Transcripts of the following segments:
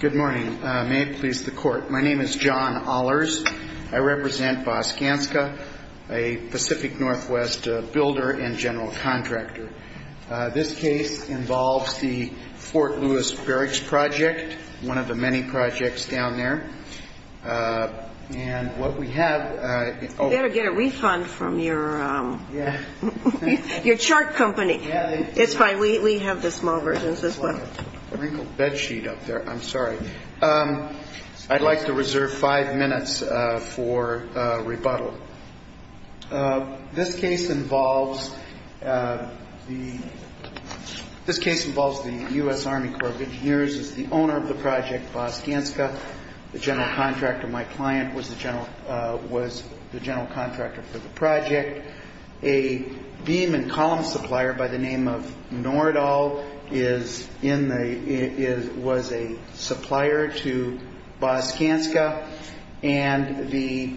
Good morning. May it please the Court. My name is John Ahlers. I represent Baugh-Skanska, a Pacific Northwest builder and general contractor. This case involves the Fort Lewis Barrage Project, one of the many projects down there. And what we have... You better get a refund from your chart company. It's fine. We have the small versions as well. Wrinkled bed sheet up there. I'm sorry. I'd like to reserve five minutes for rebuttal. This case involves the U.S. Army Corps of Engineers as the owner of the project, Baugh-Skanska. The general contractor, my client, was the general contractor for the project. A beam and column supplier by the name of Nordahl was a supplier to Baugh-Skanska. And the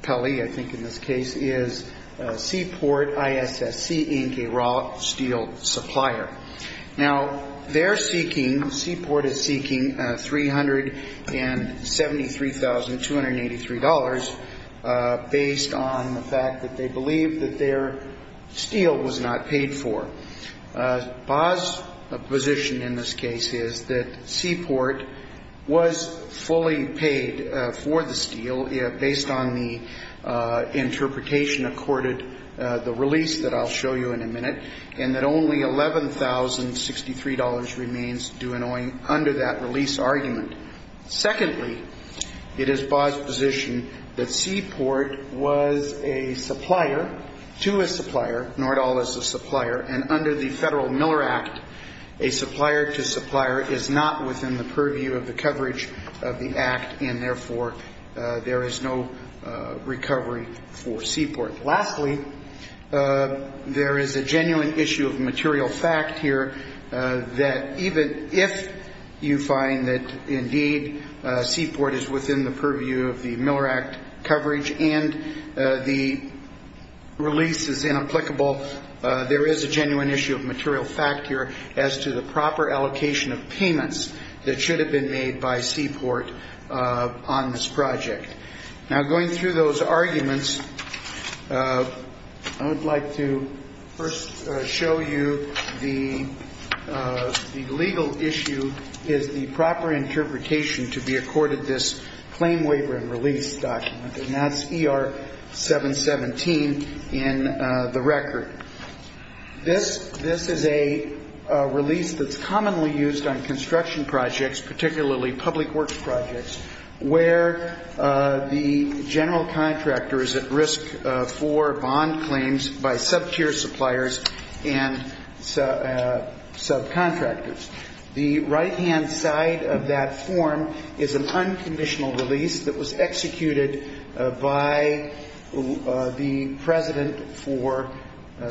appellee, I think in this case, is Seaport ISSC, Inc, a raw steel supplier. Now, they're seeking, Seaport is seeking $373,283 based on the fact that they believe that their steel was not paid for. Baugh's position in this case is that Seaport was fully paid for the steel based on the interpretation accorded the release that I'll show you in a minute and that only $11,063 remains due under that release argument. Secondly, it is Baugh's position that Seaport was a supplier to a supplier, Nordahl is a supplier, and under the Federal Miller Act, a supplier to supplier is not within the purview of the coverage of the Act and therefore there is no recovery for Seaport. Lastly, there is a genuine issue of material fact here that even if you find that indeed Seaport is within the purview of the Miller Act coverage and the release is inapplicable, there is a genuine issue of material fact here as to the proper allocation of payments that should have been made by Seaport on this project. Now going through those arguments, I would like to first show you the legal issue is the proper interpretation to be accorded this claim waiver and release document and that's ER 717 in the record. This is a release that's commonly used on construction projects, particularly public works projects, where the general contractor is at risk for bond claims by sub-tier suppliers and subcontractors. The right-hand side of that form is an unconditional release that was executed by the President for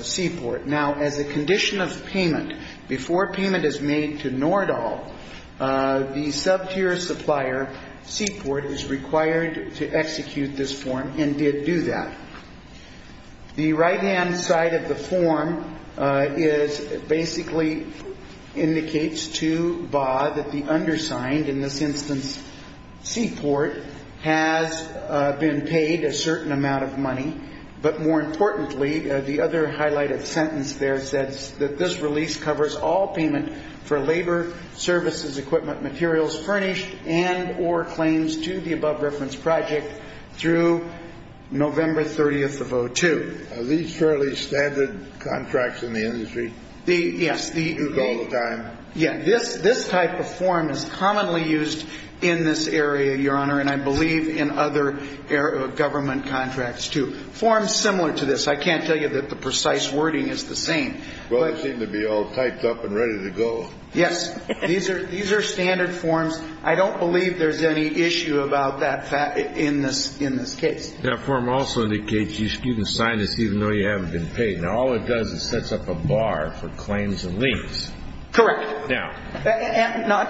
Seaport. Now as a condition of payment, before payment is made to Nordahl, the sub-tier supplier, Seaport, is required to execute this form and did do that. The right-hand side of the form basically indicates to BAH that the undersigned, in this instance Seaport, has been paid a certain amount of money, but more importantly, the other highlighted sentence there says that this release covers all payment for labor, services, equipment, materials, furnished and or claims to the above reference project through November 30th of 02. Are these fairly standard contracts in the industry? Yes. You do it all the time? Yeah. This type of form is commonly used in this area, Your Honor, and I believe in other government contracts too. Forms similar to this. I can't tell you that the precise wording is the same. Well, they seem to be all typed up and ready to go. Yes. These are standard forms. I don't believe there's any issue about that in this case. That form also indicates you can sign this even though you haven't been paid. Now all it does is sets up a bar for claims and liens. Correct. Now.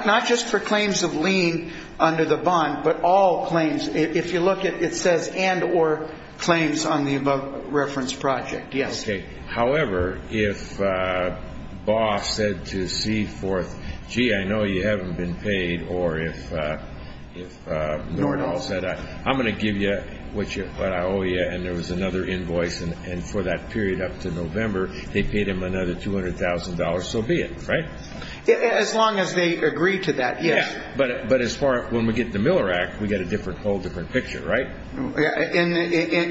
Not just for claims of lien under the bond, but all claims. If you look at it, it says and or claims on the above reference project. Yes. However, if Baugh said to C-4th, gee, I know you haven't been paid, or if Nordahl said I'm going to give you what I owe you, and there was another invoice, and for that period up to November, they paid him another $200,000, so be it, right? As long as they agree to that, yes. But as far as when we get the Miller Act, we get a whole different picture, right?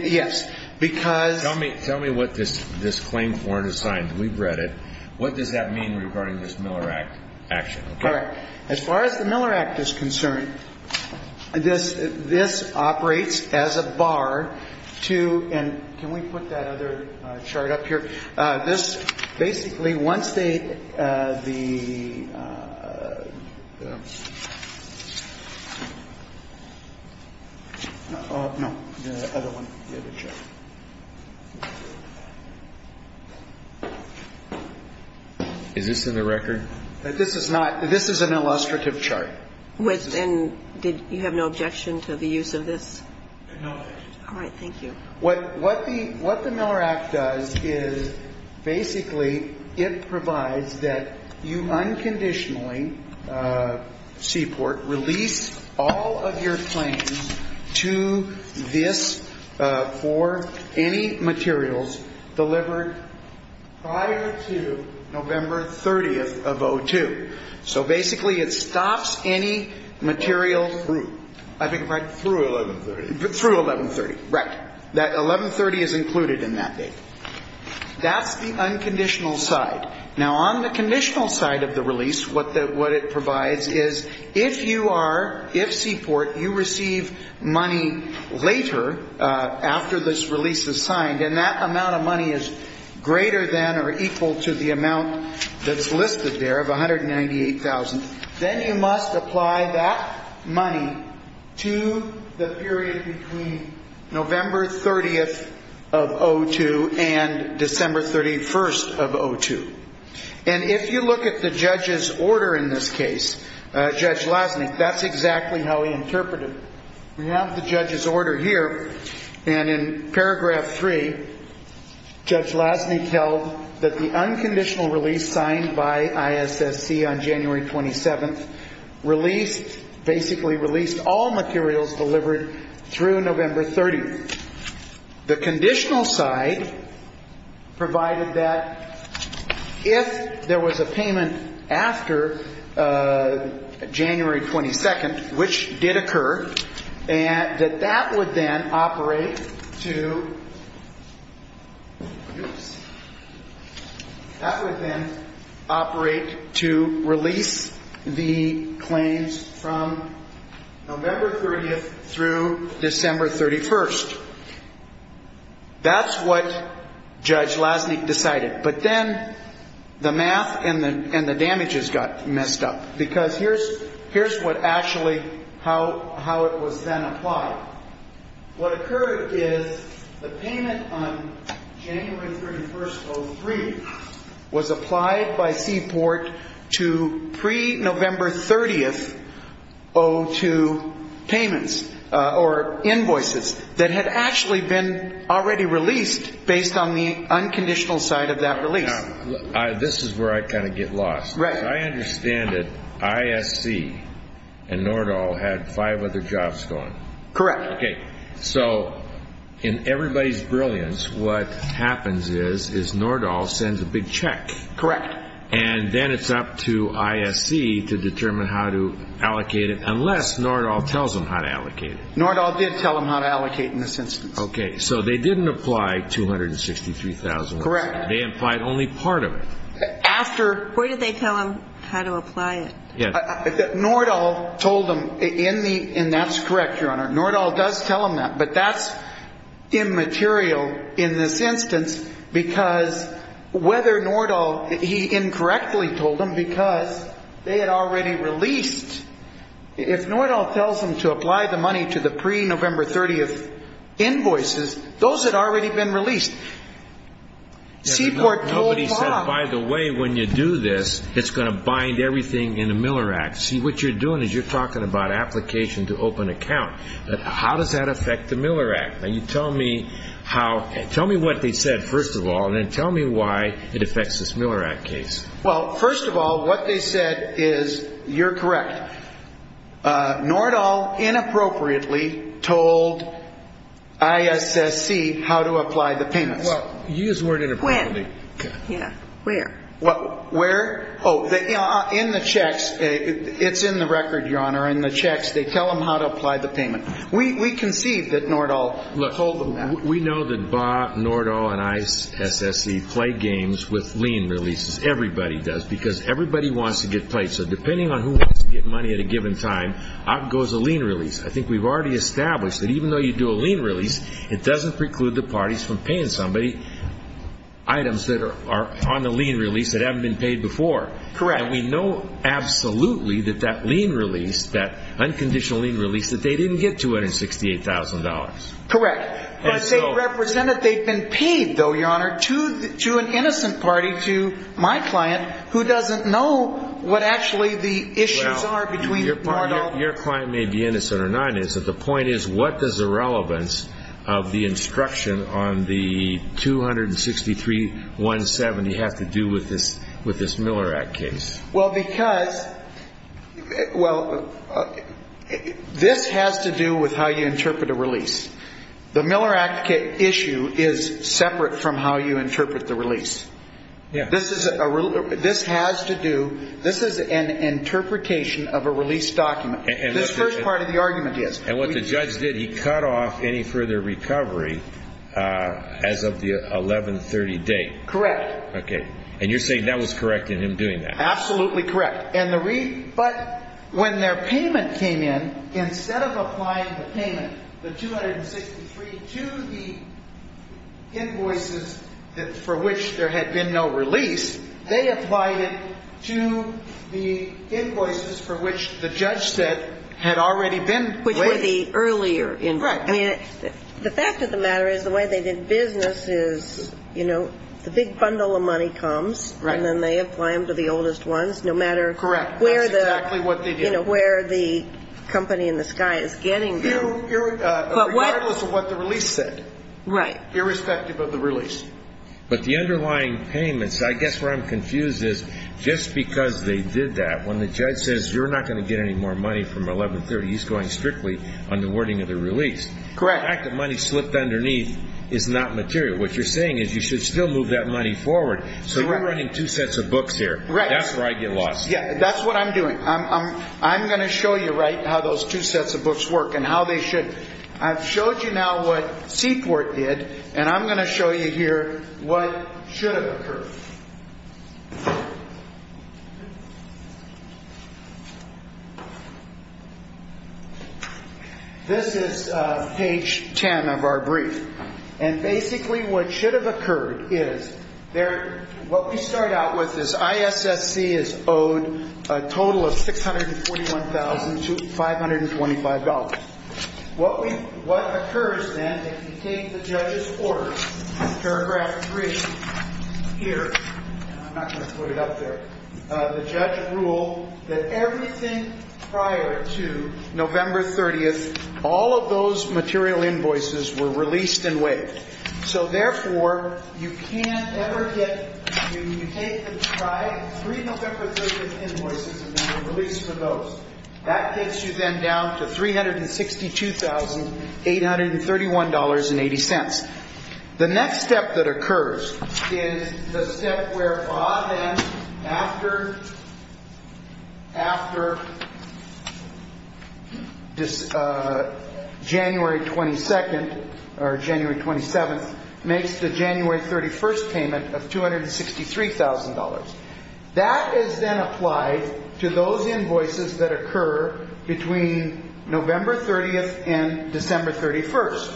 Yes. Because. Tell me what this claim form is signed. We've read it. What does that mean regarding this Miller Act action? Correct. As far as the Miller Act is concerned, this operates as a bar to, and can we put that other chart up here? This basically, once they, the, no, the other one, the other chart. Is this in the record? This is not. This is an illustrative chart. And you have no objection to the use of this? No objection. All right. Thank you. What the Miller Act does is basically it provides that you unconditionally, Seaport, release all of your claims to this for any materials delivered prior to November 30th of 02. So basically it stops any material through. I think, right? Through 1130. Through 1130, right. That 1130 is included in that date. That's the unconditional side. Now, on the conditional side of the release, what it provides is if you are, if Seaport, you receive money later after this release is signed and that amount of money is greater than or equal to the amount that's listed there of 198,000, then you must apply that money to the period between November 30th of 02 and December 31st of 02. And if you look at the judge's order in this case, Judge Lasnik, that's exactly how he interpreted it. We have the judge's order here. And in paragraph three, Judge Lasnik held that the unconditional release signed by ISSC on January 27th released, basically released all materials delivered through November 30th. The conditional side provided that if there was a payment after January 22nd, which did occur, and that that would then operate to release the claims from November 30th through December 31st. That's what Judge Lasnik decided. But then the math and the damages got messed up because here's what actually how it was then applied. What occurred is the payment on January 31st, 03 was applied by Seaport to pre-November 30th, 02 payments or invoices that had actually been already released based on the unconditional side of that release. This is where I kind of get lost. I understand that ISC and Nordahl had five other jobs going. Correct. Okay. So in everybody's brilliance, what happens is Nordahl sends a big check. Correct. And then it's up to ISC to determine how to allocate it unless Nordahl tells them how to allocate it. Nordahl did tell them how to allocate in this instance. Okay. So they didn't apply $263,000. Correct. They implied only part of it. Where did they tell them how to apply it? Nordahl told them in the, and that's correct, Your Honor, Nordahl does tell them that. But that's immaterial in this instance because whether Nordahl, he incorrectly told them because they had already released. If Nordahl tells them to apply the money to the pre-November 30th invoices, those had already been released. Seaport told Bob. Nobody said, by the way, when you do this, it's going to bind everything in the Miller Act. See, what you're doing is you're talking about application to open account. How does that affect the Miller Act? Now, you tell me how, tell me what they said, first of all, and then tell me why it affects this Miller Act case. Well, first of all, what they said is, you're correct, Nordahl inappropriately told ISSC how to apply the payments. Well, you used the word inappropriately. When? Yeah. Where? Oh, in the checks. It's in the record, Your Honor, in the checks. They tell them how to apply the payment. We conceived that Nordahl told them that. Look, we know that Bob, Nordahl, and ISSC play games with lien releases. Everybody does because everybody wants to get paid. So depending on who wants to get money at a given time, out goes a lien release. I think we've already established that even though you do a lien release, it doesn't preclude the parties from paying somebody items that are on the lien release that haven't been paid before. Correct. And we know absolutely that that lien release, that unconditional lien release, that they didn't get $268,000. Correct. But they represent that they've been paid, though, Your Honor, to an innocent party, to my client, who doesn't know what actually the issues are between Nordahl. Your client may be innocent or not. The point is what does the relevance of the instruction on the 263.170 have to do with this Miller Act case? Well, because this has to do with how you interpret a release. The Miller Act issue is separate from how you interpret the release. This has to do, this is an interpretation of a release document. This first part of the argument is. And what the judge did, he cut off any further recovery as of the 11-30 date. Correct. Okay. And you're saying that was correct in him doing that? Absolutely correct. But when their payment came in, instead of applying the payment, the 263, to the invoices for which there had been no release, they applied it to the invoices for which the judge said had already been waived. Which were the earlier invoices. The fact of the matter is the way they did business is, you know, the big bundle of money comes. Right. And then they apply them to the oldest ones, no matter where the company in the sky is getting them. Regardless of what the release said. Right. Irrespective of the release. But the underlying payments, I guess where I'm confused is just because they did that, when the judge says you're not going to get any more money from 11-30, he's going strictly on the wording of the release. Correct. The fact that money slipped underneath is not material. What you're saying is you should still move that money forward. So you're running two sets of books here. Right. That's where I get lost. That's what I'm doing. I'm going to show you how those two sets of books work and how they should. I've showed you now what Seaport did, and I'm going to show you here what should have occurred. This is page 10 of our brief. And basically what should have occurred is what we start out with is ISSC is owed a total of $641,525. What occurs then, if you take the judge's order, paragraph 3 here, I'm not going to put it up there, the judge ruled that everything prior to November 30th, all of those material invoices were released and waived. So, therefore, you can't ever get, I mean, you take the tribe, three November 30th invoices have been released for those. That gets you then down to $362,831.80. The next step that occurs is the step where FAA then, after January 22nd or January 27th, makes the January 31st payment of $263,000. That is then applied to those invoices that occur between November 30th and December 31st.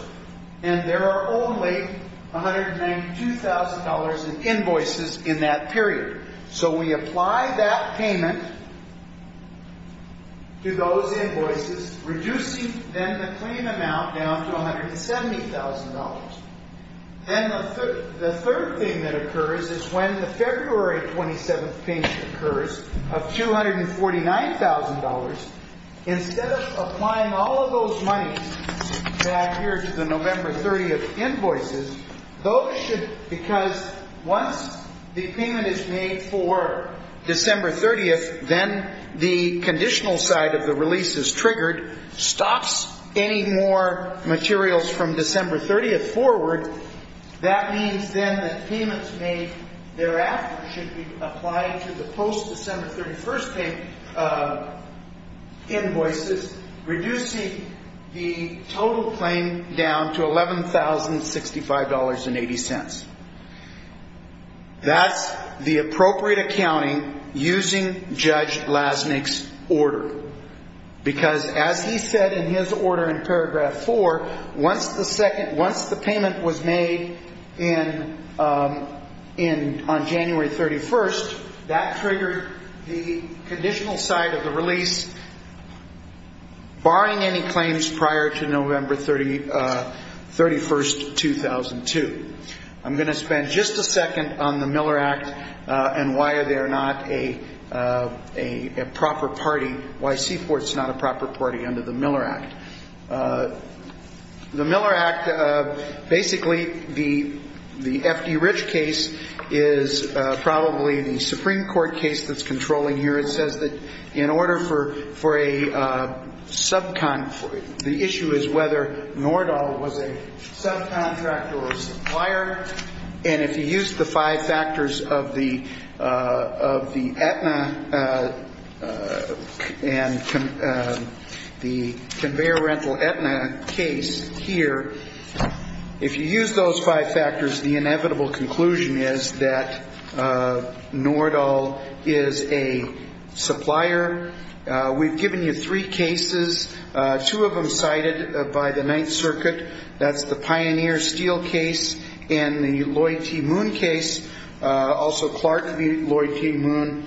And there are only $192,000 in invoices in that period. So we apply that payment to those invoices, reducing then the claim amount down to $170,000. Then the third thing that occurs is when the February 27th payment occurs of $249,000, instead of applying all of those monies back here to the November 30th invoices, those should, because once the payment is made for December 30th, then the conditional side of the release is triggered, stops any more materials from December 30th forward. That means then that payments made thereafter should be applied to the post-December 31st invoices, reducing the total claim down to $11,065.80. That's the appropriate accounting using Judge Lasnik's order. Because as he said in his order in paragraph four, once the payment was made on January 31st, that triggered the conditional side of the release, barring any claims prior to November 31st, 2002. I'm going to spend just a second on the Miller Act and why they're not a proper party, why Seaport's not a proper party under the Miller Act. The Miller Act, basically the F.D. Rich case is probably the Supreme Court case that's controlling here. It says that in order for a subcontractor, the issue is whether Nordahl was a subcontractor or supplier. And if you use the five factors of the Aetna and the conveyor rental Aetna case here, if you use those five factors, the inevitable conclusion is that Nordahl is a supplier. We've given you three cases, two of them cited by the Ninth Circuit. That's the Pioneer Steel case and the Lloyd T. Moon case, also Clark v. Lloyd T. Moon.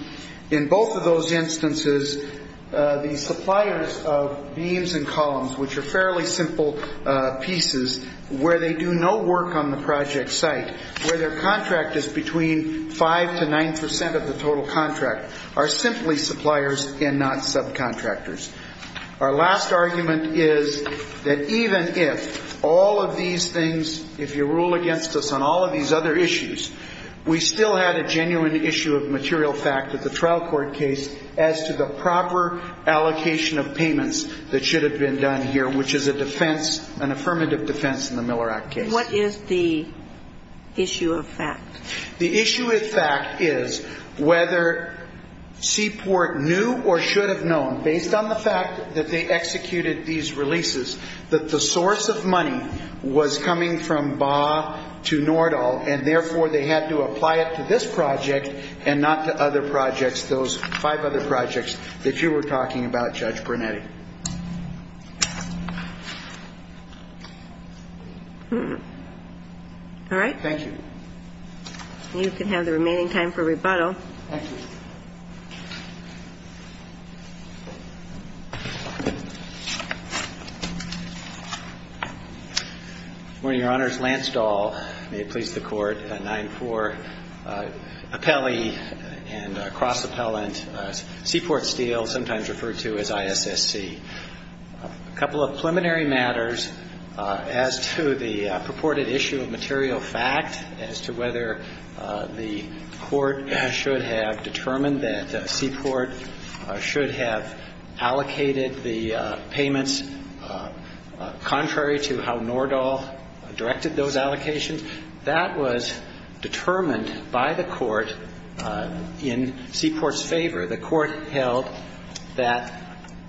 In both of those instances, the suppliers of beams and columns, which are fairly simple pieces, where they do no work on the project site, where their contract is between 5 to 9 percent of the total contract, are simply suppliers and not subcontractors. Our last argument is that even if all of these things, if you rule against us on all of these other issues, we still had a genuine issue of material fact at the trial court case as to the proper allocation of payments that should have been done here, which is a defense, an affirmative defense in the Miller Act case. What is the issue of fact? The issue of fact is whether Seaport knew or should have known, based on the fact that they executed these releases, that the source of money was coming from Baugh to Nordahl, and therefore they had to apply it to this project and not to other projects, those five other projects that you were talking about, Judge Brunetti. All right. Thank you. You can have the remaining time for rebuttal. Thank you. Good morning, Your Honors. Lance Dahl, may it please the Court, 9-4, appellee and cross-appellant Seaport Steel, sometimes referred to as ISSC. A couple of preliminary matters as to the purported issue of material fact, as to whether the Court should have determined that Seaport should have allocated the payments contrary to how Nordahl directed those allocations, that was determined by the Court in Seaport's favor. The Court held that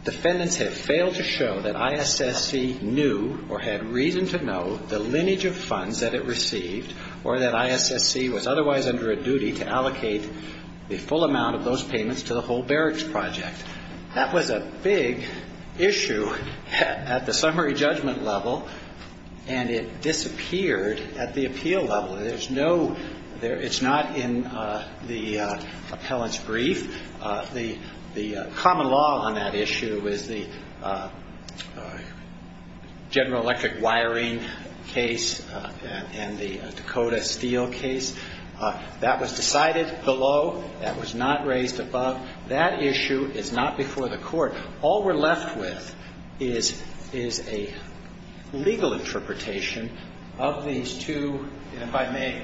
defendants had failed to show that ISSC knew or had reason to know the lineage of funds that it received or that ISSC was otherwise under a duty to allocate the full amount of those payments to the whole barracks project. That was a big issue at the summary judgment level, and it disappeared at the appeal level. It's not in the appellant's brief. The common law on that issue is the General Electric wiring case and the Dakota Steel case. That was decided below, that was not raised above. That issue is not before the Court. All we're left with is a legal interpretation of these two, and if I may.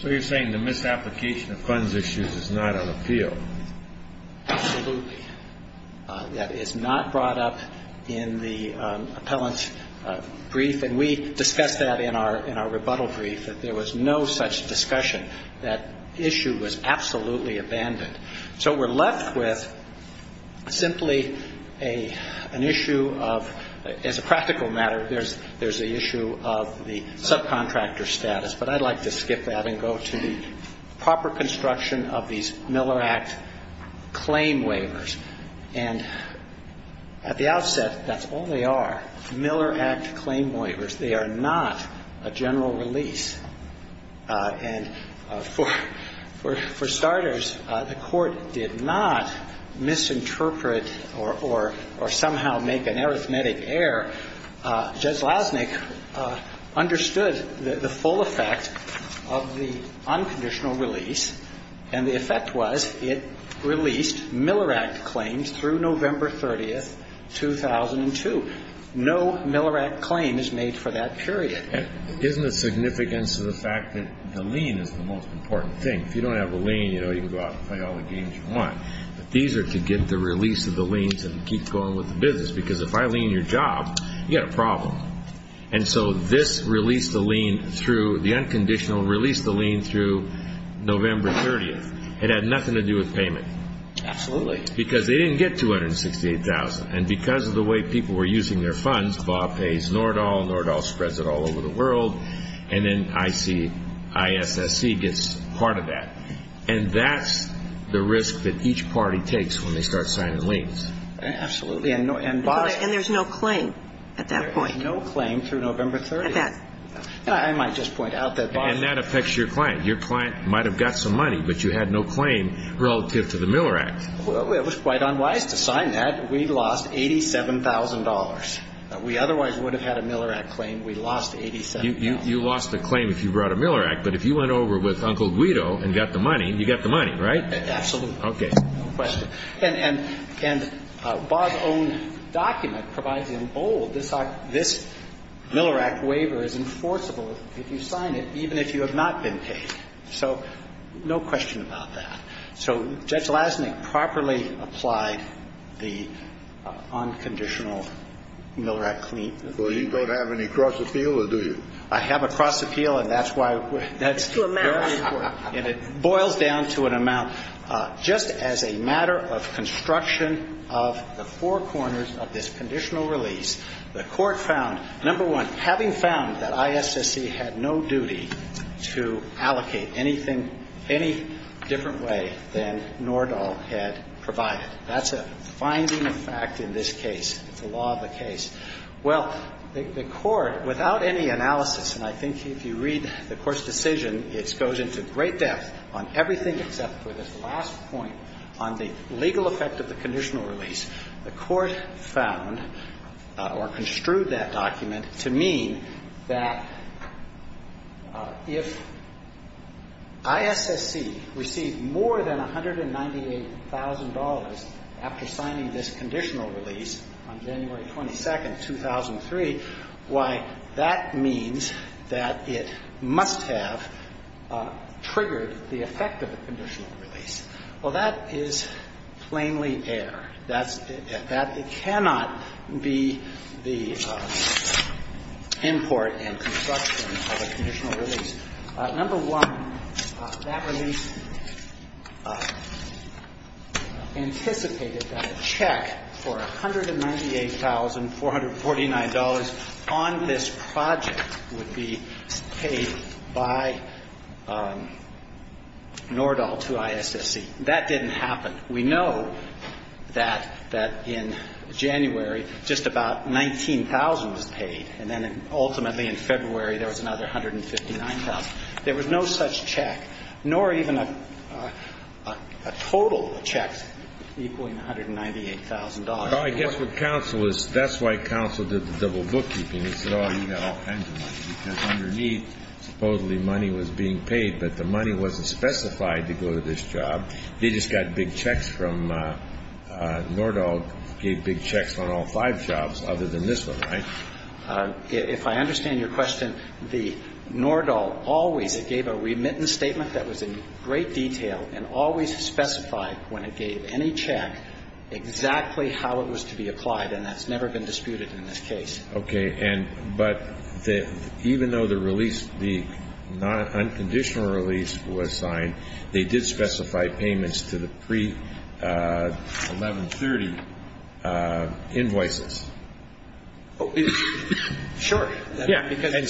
So you're saying the misapplication of funds issues is not on appeal? Absolutely. That is not brought up in the appellant's brief, and we discussed that in our rebuttal brief, that there was no such discussion. That issue was absolutely abandoned. So we're left with simply an issue of, as a practical matter, there's the issue of the subcontractor status. But I'd like to skip that and go to the proper construction of these Miller Act claim waivers. And at the outset, that's all they are, Miller Act claim waivers. They are not a general release. And for starters, the Court did not misinterpret or somehow make an arithmetic error. Judge Lasnik understood the full effect of the unconditional release, and the effect was it released Miller Act claims through November 30, 2002. No Miller Act claim is made for that period. Isn't the significance of the fact that the lien is the most important thing? If you don't have a lien, you can go out and play all the games you want. But these are to get the release of the lien to keep going with the business, because if I lien your job, you've got a problem. And so this released the lien through, the unconditional released the lien through November 30. It had nothing to do with payment. Absolutely. Because they didn't get 268,000. And because of the way people were using their funds, Bob pays Nordahl, Nordahl spreads it all over the world, and then ICISSC gets part of that. And that's the risk that each party takes when they start signing liens. And there's no claim at that point. And that affects your client. Your client might have got some money, but you had no claim relative to the Miller Act. It was quite unwise to sign that. We lost $87,000. We otherwise would have had a Miller Act claim. We lost $87,000. You lost the claim if you brought a Miller Act, but if you went over with Uncle Guido and got the money, you got the money, right? Absolutely. And Bob's own document provides in bold this Miller Act waiver is enforceable if you sign it, even if you have not been paid. So no question about that. So Judge Lasnik properly applied the unconditional Miller Act claim. Well, you don't have any cross appeal, or do you? I have a cross appeal, and that's why that's very important. And it boils down to an amount just as a matter of construction of the four corners of this conditional release. The Court found, number one, having found that ISSC had no duty to allocate anything any different way than Nordahl had provided. That's a finding of fact in this case. It's a law of the case. Well, the Court, without any analysis, and I think if you read the Court's decision, it goes into great depth on everything except for this last point on the legal effect of the conditional release. The Court found or construed that document to mean that if ISSC received more than $198,000 after signing this conditional release on January 22nd, 2003, why, that means that it must have triggered the effect of the conditional release. Well, that is plainly error. That's at that. It cannot be the import and construction of a conditional release. Number one, that release anticipated that a check for $198,449 on this project would be paid by Nordahl to ISSC. That didn't happen. We know that in January, just about $19,000 was paid. And then ultimately in February, there was another $159,000. There was no such check, nor even a total check equaling $198,000. Well, I guess what counsel is, that's why counsel did the double bookkeeping. He said, oh, you've got all kinds of money. Underneath, supposedly money was being paid, but the money wasn't specified to go to this job. They just got big checks from Nordahl, gave big checks on all five jobs other than this one, right? If I understand your question, Nordahl always gave a remittance statement that was in great detail and always specified when it gave any check exactly how it was to be applied, and that's never been disputed in this case. Okay. But even though the release, the unconditional release was signed, they did specify payments to the pre-1130 invoices. Sure. And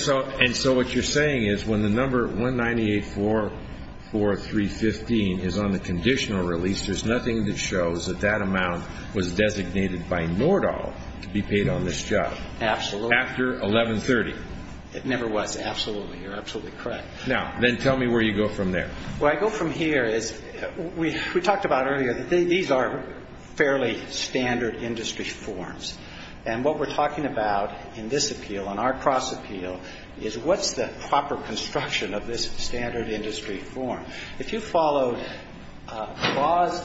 so what you're saying is when the number 19844315 is on the conditional release, there's nothing that shows that that amount was designated by Nordahl to be paid on this job. Absolutely. After 1130. It never was. Absolutely. You're absolutely correct. Now, then tell me where you go from there. Where I go from here is we talked about earlier that these are fairly standard industry forms, and what we're talking about in this appeal, in our cross appeal, is what's the proper construction of this standard industry form. If you followed Baugh's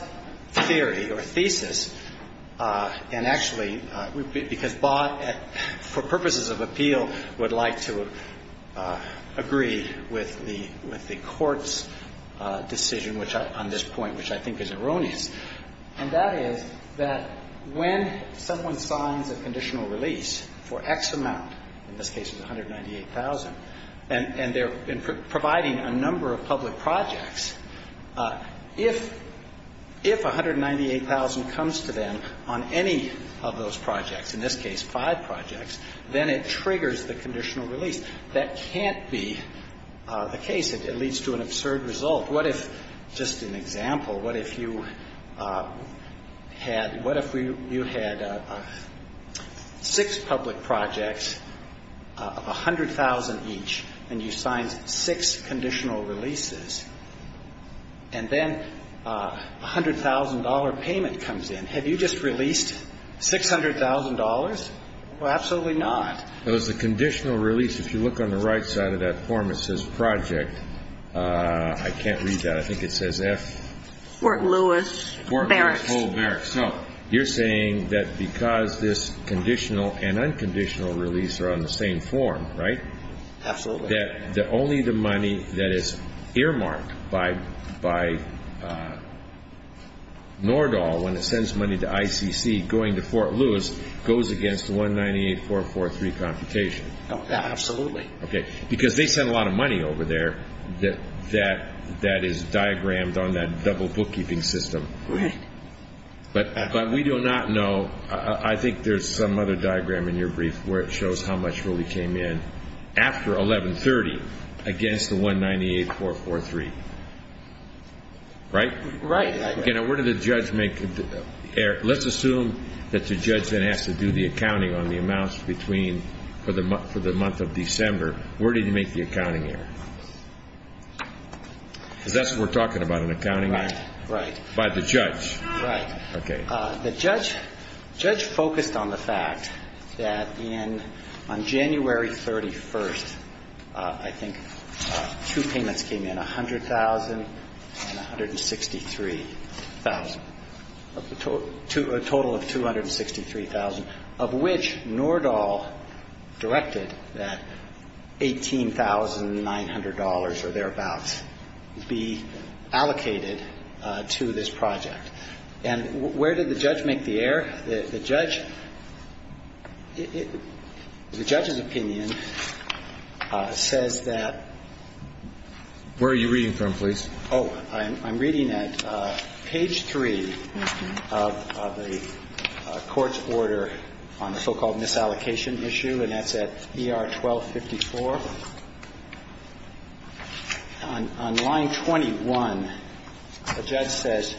theory or thesis, and actually, because Baugh, for purposes of appeal, would like to agree with the Court's decision on this point, which I think is erroneous, and that is that when someone signs a conditional release for X amount, in this case it's 198,000, and they're providing a number of public projects, if 198,000 comes to them on any of those projects, in this case five projects, then it triggers the conditional release. That can't be the case. It leads to an absurd result. What if, just an example, what if you had six public projects, 100,000 each, and you signed six conditional releases, and then $100,000 payment comes in. Have you just released $600,000? Well, absolutely not. It was a conditional release. If you look on the right side of that form, it says project. I can't read that. I think it says F. Fort Lewis Barracks. Fort Lewis Hall Barracks. So you're saying that because this conditional and unconditional release are on the same form, right? Absolutely. That only the money that is earmarked by Nordahl when it sends money to ICC going to Fort Lewis goes against the 198,443 computation. Absolutely. Because they send a lot of money over there that is diagrammed on that double bookkeeping system. Right. But we do not know. I think there's some other diagram in your brief where it shows how much really came in after 1130 against the 198,443. Right? Right. Again, where did the judge make the error? Let's assume that the judge then has to do the accounting on the amounts between for the month of December. Where did he make the accounting error? Because that's what we're talking about, an accounting error. Right. By the judge. Right. Okay. The judge focused on the fact that on January 31st, I think, two payments came in, 100,000 and 163,000, a total of 263,000, of which Nordahl directed that $18,900 or thereabouts be allocated to this project. And where did the judge make the error? The judge – the judge's opinion says that – Where are you reading from, please? Oh, I'm reading at page 3 of the court's order on the so-called misallocation issue, and that's at ER 1254. On line 21, the judge says,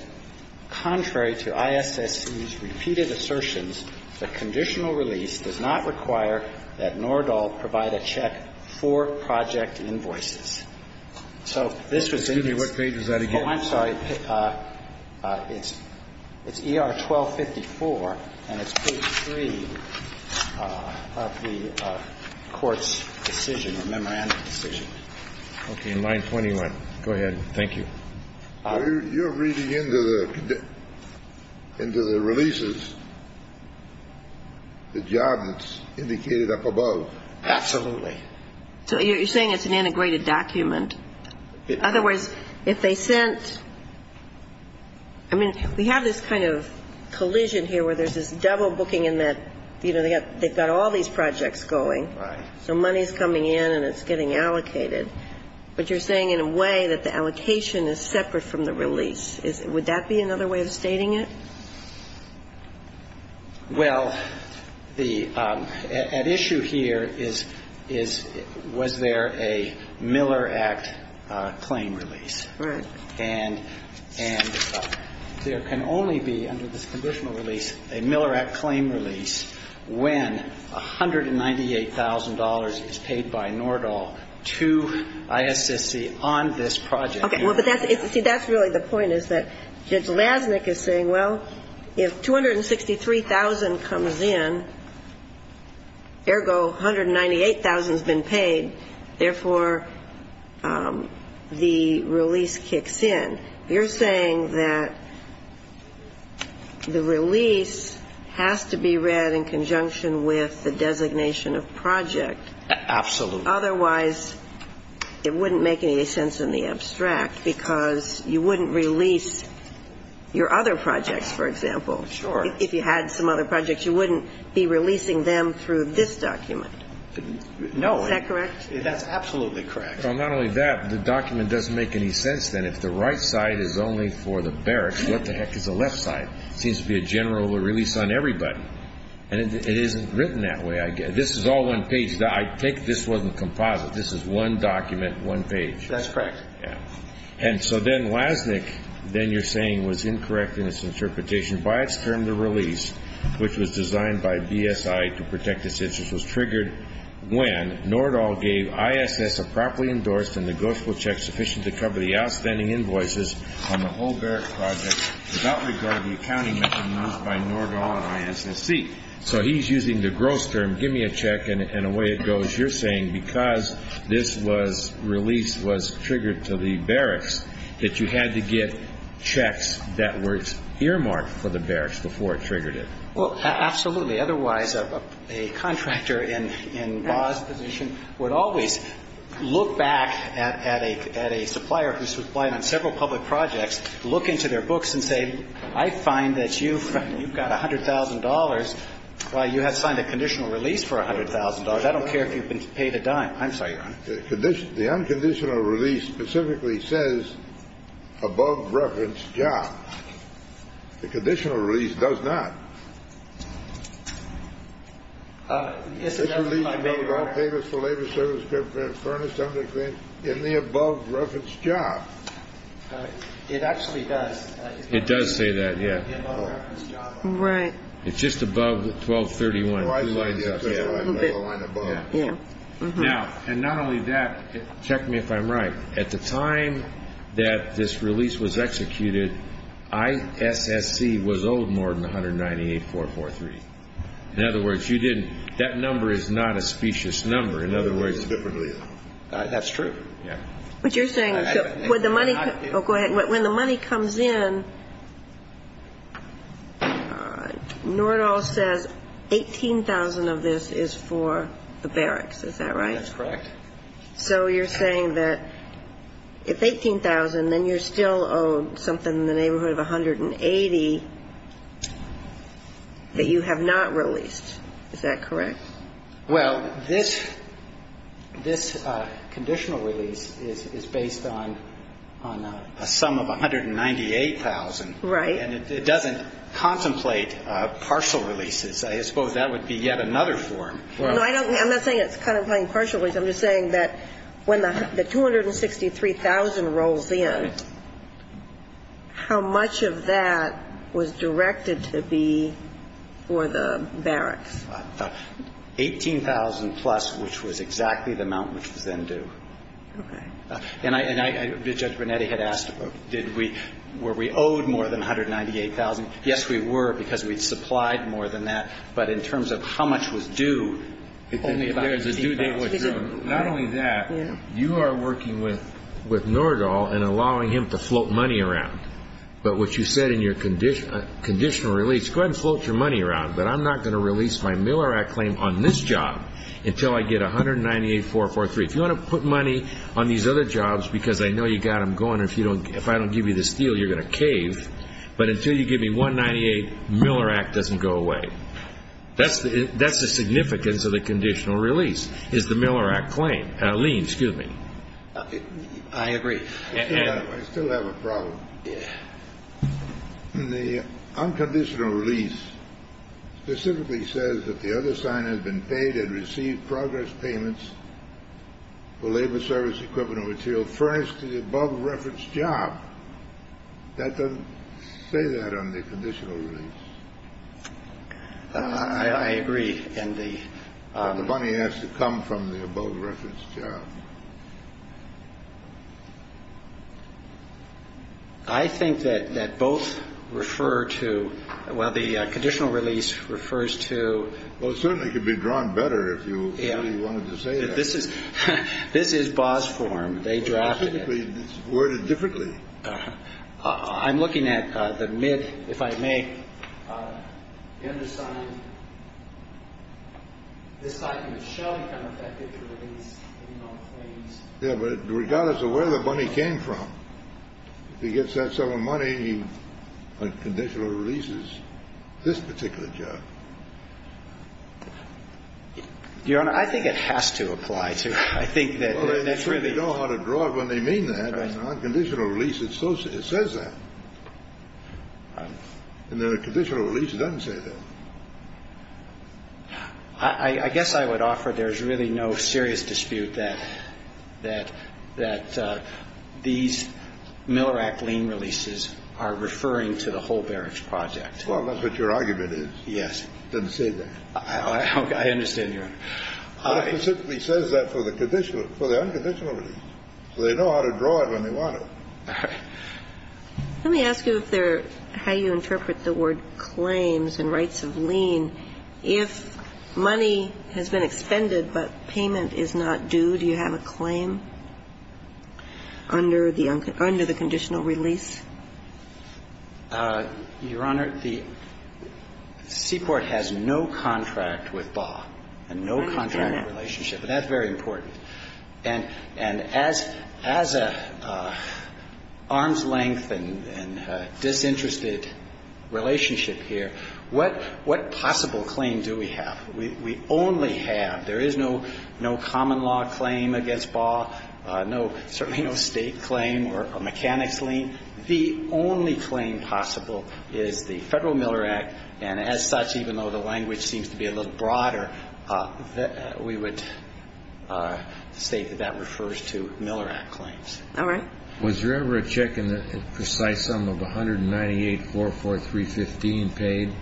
contrary to ISSC's repeated assertions, the conditional release does not require that Nordahl provide a check for project invoices. So this was in its – Excuse me. What page was that again? Oh, I'm sorry. It's ER 1254, and it's page 3 of the court's decision, the memorandum decision. Okay. Line 21. Go ahead. Thank you. You're reading into the releases the job that's indicated up above. Absolutely. So you're saying it's an integrated document? In other words, if they sent – I mean, we have this kind of collision here where there's this double booking in that, you know, they've got all these projects going. Right. So money's coming in and it's getting allocated. But you're saying in a way that the allocation is separate from the release. Would that be another way of stating it? Well, the – at issue here is was there a Miller Act claim release. Right. And there can only be, under this conditional release, a Miller Act claim release when $198,000 is paid by Nordahl to ISSC on this project. Okay. Well, but that's – see, that's really the point is that Judge Lasnik is saying, well, if $263,000 comes in, ergo $198,000 has been paid, therefore the release kicks in. You're saying that the release has to be read in conjunction with the designation of project. Absolutely. Otherwise, it wouldn't make any sense in the abstract because you wouldn't release your other projects, for example. Sure. If you had some other projects, you wouldn't be releasing them through this document. No. Is that correct? That's absolutely correct. Well, not only that, the document doesn't make any sense then. If the right side is only for the barracks, what the heck is the left side? It seems to be a general release on everybody. And it isn't written that way. This is all one page. I take this wasn't composite. This is one document, one page. That's correct. And so then Lasnik, then you're saying, was incorrect in its interpretation. By its term, the release, which was designed by BSI to protect its interests, was triggered when Nordahl gave ISS a properly endorsed and negotiable check sufficient to cover the outstanding invoices on the whole barrack project without regard to the accounting mechanisms by Nordahl and ISSC. So he's using the gross term, give me a check, and away it goes. You're saying because this release was triggered to the barracks, that you had to get checks that were earmarked for the barracks before it triggered it. Well, absolutely. Otherwise, a contractor in Bob's position would always look back at a supplier who supplied on several public projects, look into their books and say, I find that you've got $100,000. Why, you have signed a conditional release for $100,000. I don't care if you've been paid a dime. I'm sorry, Your Honor. The unconditional release specifically says above reference job. The conditional release does not. Yes, it does, Your Honor. In the above reference job. It actually does. It does say that, yeah. Right. It's just above 1231, two lines up. Now, and not only that, check me if I'm right. At the time that this release was executed, ISSC was owed more than 198,443. In other words, you didn't. That number is not a specious number. In other words, it's different. That's true. Yeah. What you're saying is that when the money comes in, Nordahl says 18,000 of this is for the barracks. Is that right? That's correct. So you're saying that if 18,000, then you're still owed something in the neighborhood of 180 that you have not released. Is that correct? Well, this conditional release is based on a sum of 198,000. Right. And it doesn't contemplate partial releases. I suppose that would be yet another form. No, I'm not saying it's contemplating partial releases. I'm just saying that when the 263,000 rolls in, how much of that was directed to be for the barracks? 18,000-plus, which was exactly the amount which was then due. Okay. And I – Judge Brunetti had asked did we – were we owed more than 198,000. Yes, we were, because we'd supplied more than that. But in terms of how much was due, only about 18,000. Not only that, you are working with Norgal and allowing him to float money around. But what you said in your conditional release, go ahead and float your money around, but I'm not going to release my Miller Act claim on this job until I get 198,443. If you want to put money on these other jobs, because I know you've got them going, if I don't give you this deal, you're going to cave, but until you give me 198, Miller Act doesn't go away. That's the significance of the conditional release is the Miller Act claim. Lee, excuse me. I agree. I still have a problem. The unconditional release specifically says that the other sign has been paid and received progress payments for labor service equipment and material furnished to the above-referenced job. That doesn't say that on the conditional release. I agree. And the money has to come from the above-referenced job. I think that that both refer to. Well, the conditional release refers to. Well, it certainly could be drawn better if you wanted to say that this is this is boss form. They drafted it. It's worded differently. I'm looking at the mid. If I may understand. This item shall become effective for release. Yeah, but regardless of where the money came from, if he gets that sort of money, he unconditional releases this particular job. Your Honor, I think it has to apply to. I think that that's really. You know how to draw it when they mean that unconditional release. It says that. And then a conditional release doesn't say that. I guess I would offer there's really no serious dispute that that that these Miller Act lien releases are referring to the whole barracks project. Well, that's what your argument is. Yes. I understand. Your Honor. He says that for the condition for the unconditional release. So they know how to draw it when they want it. Let me ask you if they're how you interpret the word claims and rights of lien. If money has been expended, but payment is not due, do you have a claim under the under the conditional release? Your Honor, the Seaport has no contract with Baugh and no contract relationship. And that's very important. And as an arm's length and disinterested relationship here, what possible claim do we have? We only have, there is no common law claim against Baugh, no, certainly no state claim or mechanics lien. The only claim possible is the Federal Miller Act. And as such, even though the language seems to be a little broader, we would state that that refers to Miller Act claims. All right. Was there ever a check in the precise sum of 19844315 paid,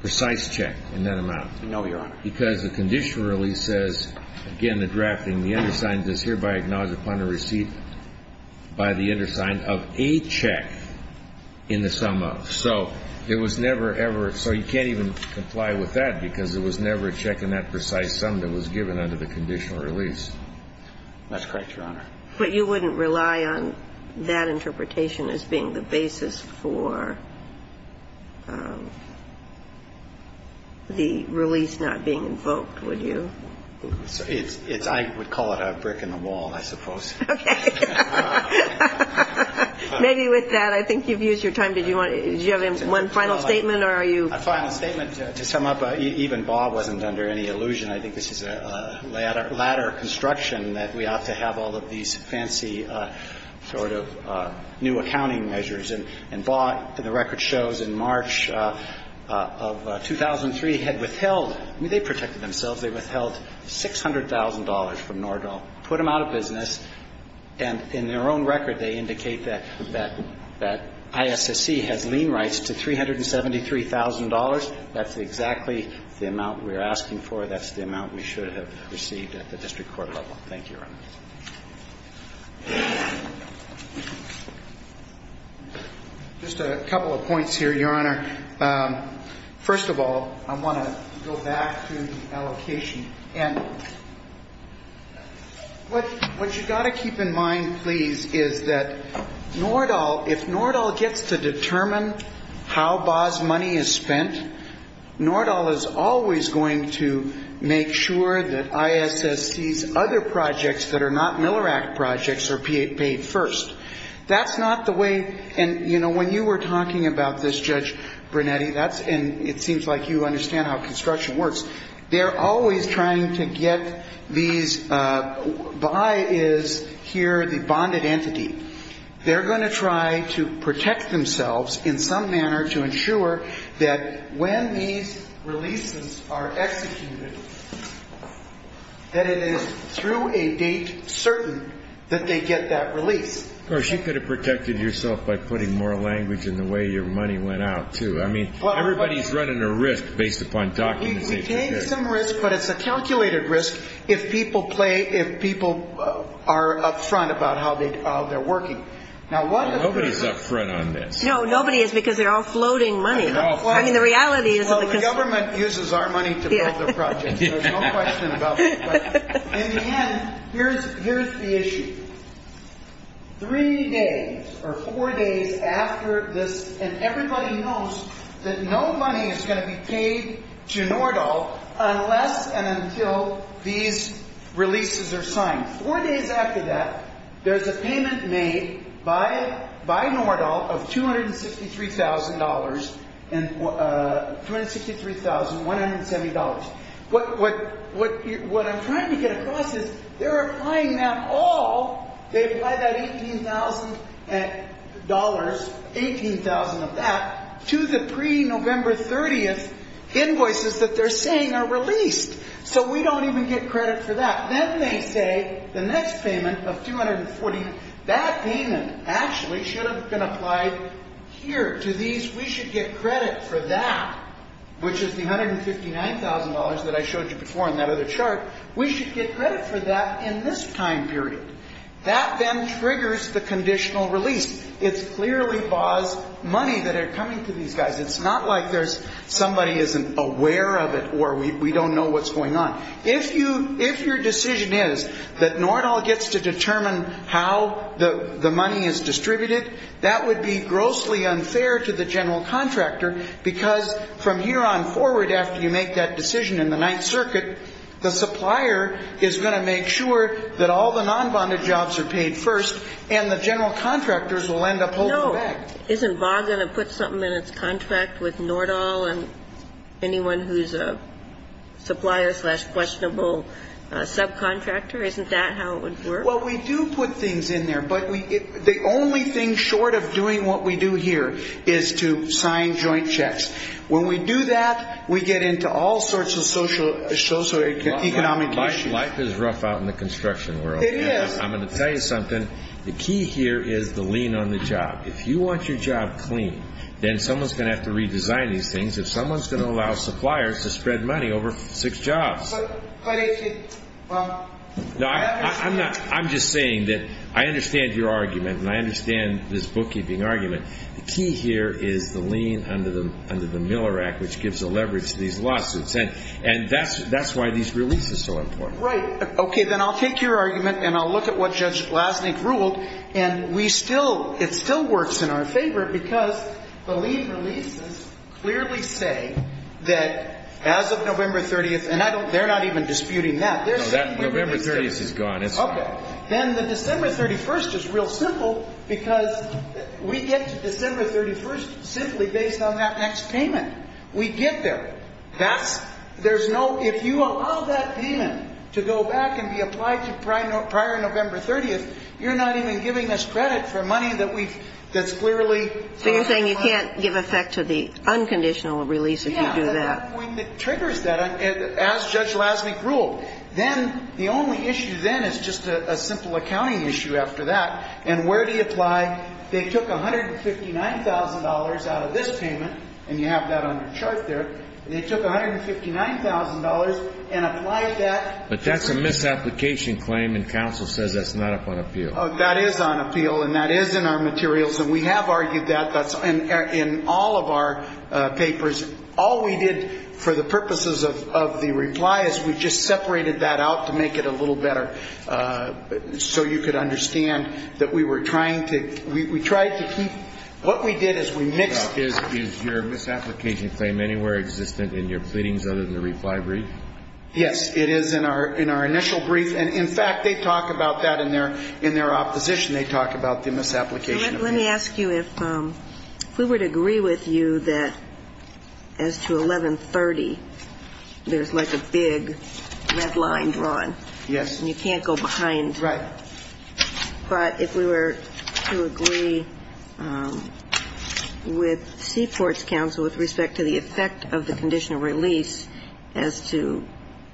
precise check in that amount? No, Your Honor. That's correct, Your Honor. But you wouldn't rely on that interpretation as being the basis for the release not being due? I would call it a brick in the wall, I suppose. Okay. Maybe with that, I think you've used your time. Did you have one final statement or are you? A final statement to sum up. Even Baugh wasn't under any illusion. I think this is a ladder construction that we ought to have all of these fancy sort of new accounting measures. And the record shows in March of 2003 had withheld, I mean, they protected themselves. They withheld $600,000 from Nordahl, put them out of business and in their own record they indicate that ISSC has lien rights to $373,000. That's exactly the amount we are asking for. That's the amount we should have received at the district court level. Thank you, Your Honor. Just a couple of points here, Your Honor. First of all, I want to go back to the allocation. And what you've got to keep in mind, please, is that Nordahl, if Nordahl gets to determine how Baugh's money is spent, Nordahl is always going to make sure that ISSC's other projects that are not Miller Act projects are paid first. That's not the way, and, you know, when you were talking about this, Judge Brunetti, and it seems like you understand how construction works, they're always trying to get these, Baugh is here the bonded entity. They're going to try to protect themselves in some manner to ensure that when these releases are executed, that it is through a date certain that they get that release. Of course, you could have protected yourself by putting more language in the way your money went out, too. I mean, everybody's running a risk based upon documentation. It takes some risk, but it's a calculated risk if people play, if people are up front about how they're working. Nobody's up front on this. No, nobody is because they're all floating money. I mean, the reality is that the government uses our money to build their projects. There's no question about that. In the end, here's the issue. Three days or four days after this, and everybody knows that no money is going to be paid to Nordahl unless and until these releases are signed. Four days after that, there's a payment made by Nordahl of $263,170. What I'm trying to get across is they're applying that all, they apply that $18,000, 18,000 of that, to the pre-November 30th invoices that they're saying are released. So we don't even get credit for that. But then they say the next payment of $240,000, that payment actually should have been applied here to these. We should get credit for that, which is the $159,000 that I showed you before in that other chart. We should get credit for that in this time period. That then triggers the conditional release. It's clearly Baugh's money that are coming to these guys. It's not like somebody isn't aware of it or we don't know what's going on. If your decision is that Nordahl gets to determine how the money is distributed, that would be grossly unfair to the general contractor because from here on forward after you make that decision in the Ninth Circuit, the supplier is going to make sure that all the non-bonded jobs are paid first and the general contractors will end up holding the bag. No. Isn't Baugh going to put something in its contract with Nordahl and anyone who's a supplier slash questionable subcontractor? Isn't that how it would work? Well, we do put things in there, but the only thing short of doing what we do here is to sign joint checks. When we do that, we get into all sorts of socioeconomic issues. Life is rough out in the construction world. It is. I'm going to tell you something. The key here is the lean on the job. If you want your job clean, then someone's going to have to redesign these things if someone's going to allow suppliers to spread money over six jobs. But if you, well... No, I'm just saying that I understand your argument and I understand this bookkeeping argument. The key here is the lean under the Miller Act, which gives the leverage to these lawsuits, and that's why these releases are so important. Right. Okay, then I'll take your argument and I'll look at what Judge Glasnick ruled, and it still works in our favor because the lean releases clearly say that as of November 30th, and they're not even disputing that. November 30th is gone. Then the December 31st is real simple because we get to December 31st simply based on that next payment. We get there. If you allow that payment to go back and be applied to prior November 30th, you're not even giving us credit for money that we've, that's clearly... So you're saying you can't give effect to the unconditional release if you do that. Yeah, that triggers that, as Judge Glasnick ruled. Then the only issue then is just a simple accounting issue after that, and where do you apply? They took $159,000 out of this payment, and you have that on your chart there. They took $159,000 and applied that... But that's a misapplication claim, and counsel says that's not up on appeal. That is on appeal, and that is in our materials, and we have argued that. That's in all of our papers. All we did for the purposes of the reply is we just separated that out to make it a little better so you could understand that we were trying to, we tried to keep, what we did is we mixed... Is your misapplication claim anywhere existent in your pleadings other than the reply brief? Yes, it is in our initial brief. In fact, they talk about that in their opposition. They talk about the misapplication. Let me ask you if we were to agree with you that as to 1130, there's like a big red line drawn. Yes. And you can't go behind. Right. But if we were to agree with Seaport's counsel with respect to the effect of the condition of release as to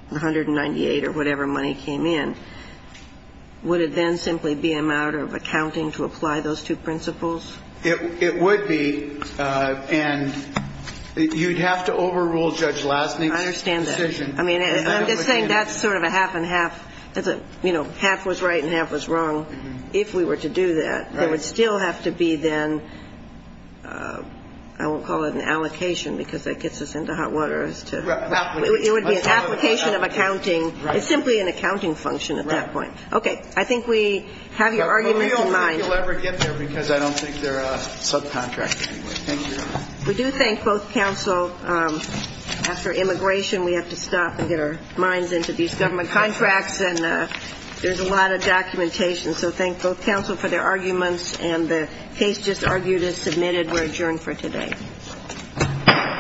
198 or whatever money came in, would it then simply be a matter of accounting to apply those two principles? It would be, and you'd have to overrule Judge Lastny's decision. I understand that. I mean, I'm just saying that's sort of a half and half. You know, half was right and half was wrong. If we were to do that, it would still have to be then, I won't call it an allocation because that gets us into hot water. It would be an application of accounting. It's simply an accounting function at that point. I think we have your argument in mind. I don't think you'll ever get there because I don't think they're a subcontract anyway. We do thank both counsel. After immigration, we have to stop and get our minds into these government contracts. And there's a lot of documentation. So thank both counsel for their arguments. And the case just argued is submitted. We're adjourned for today.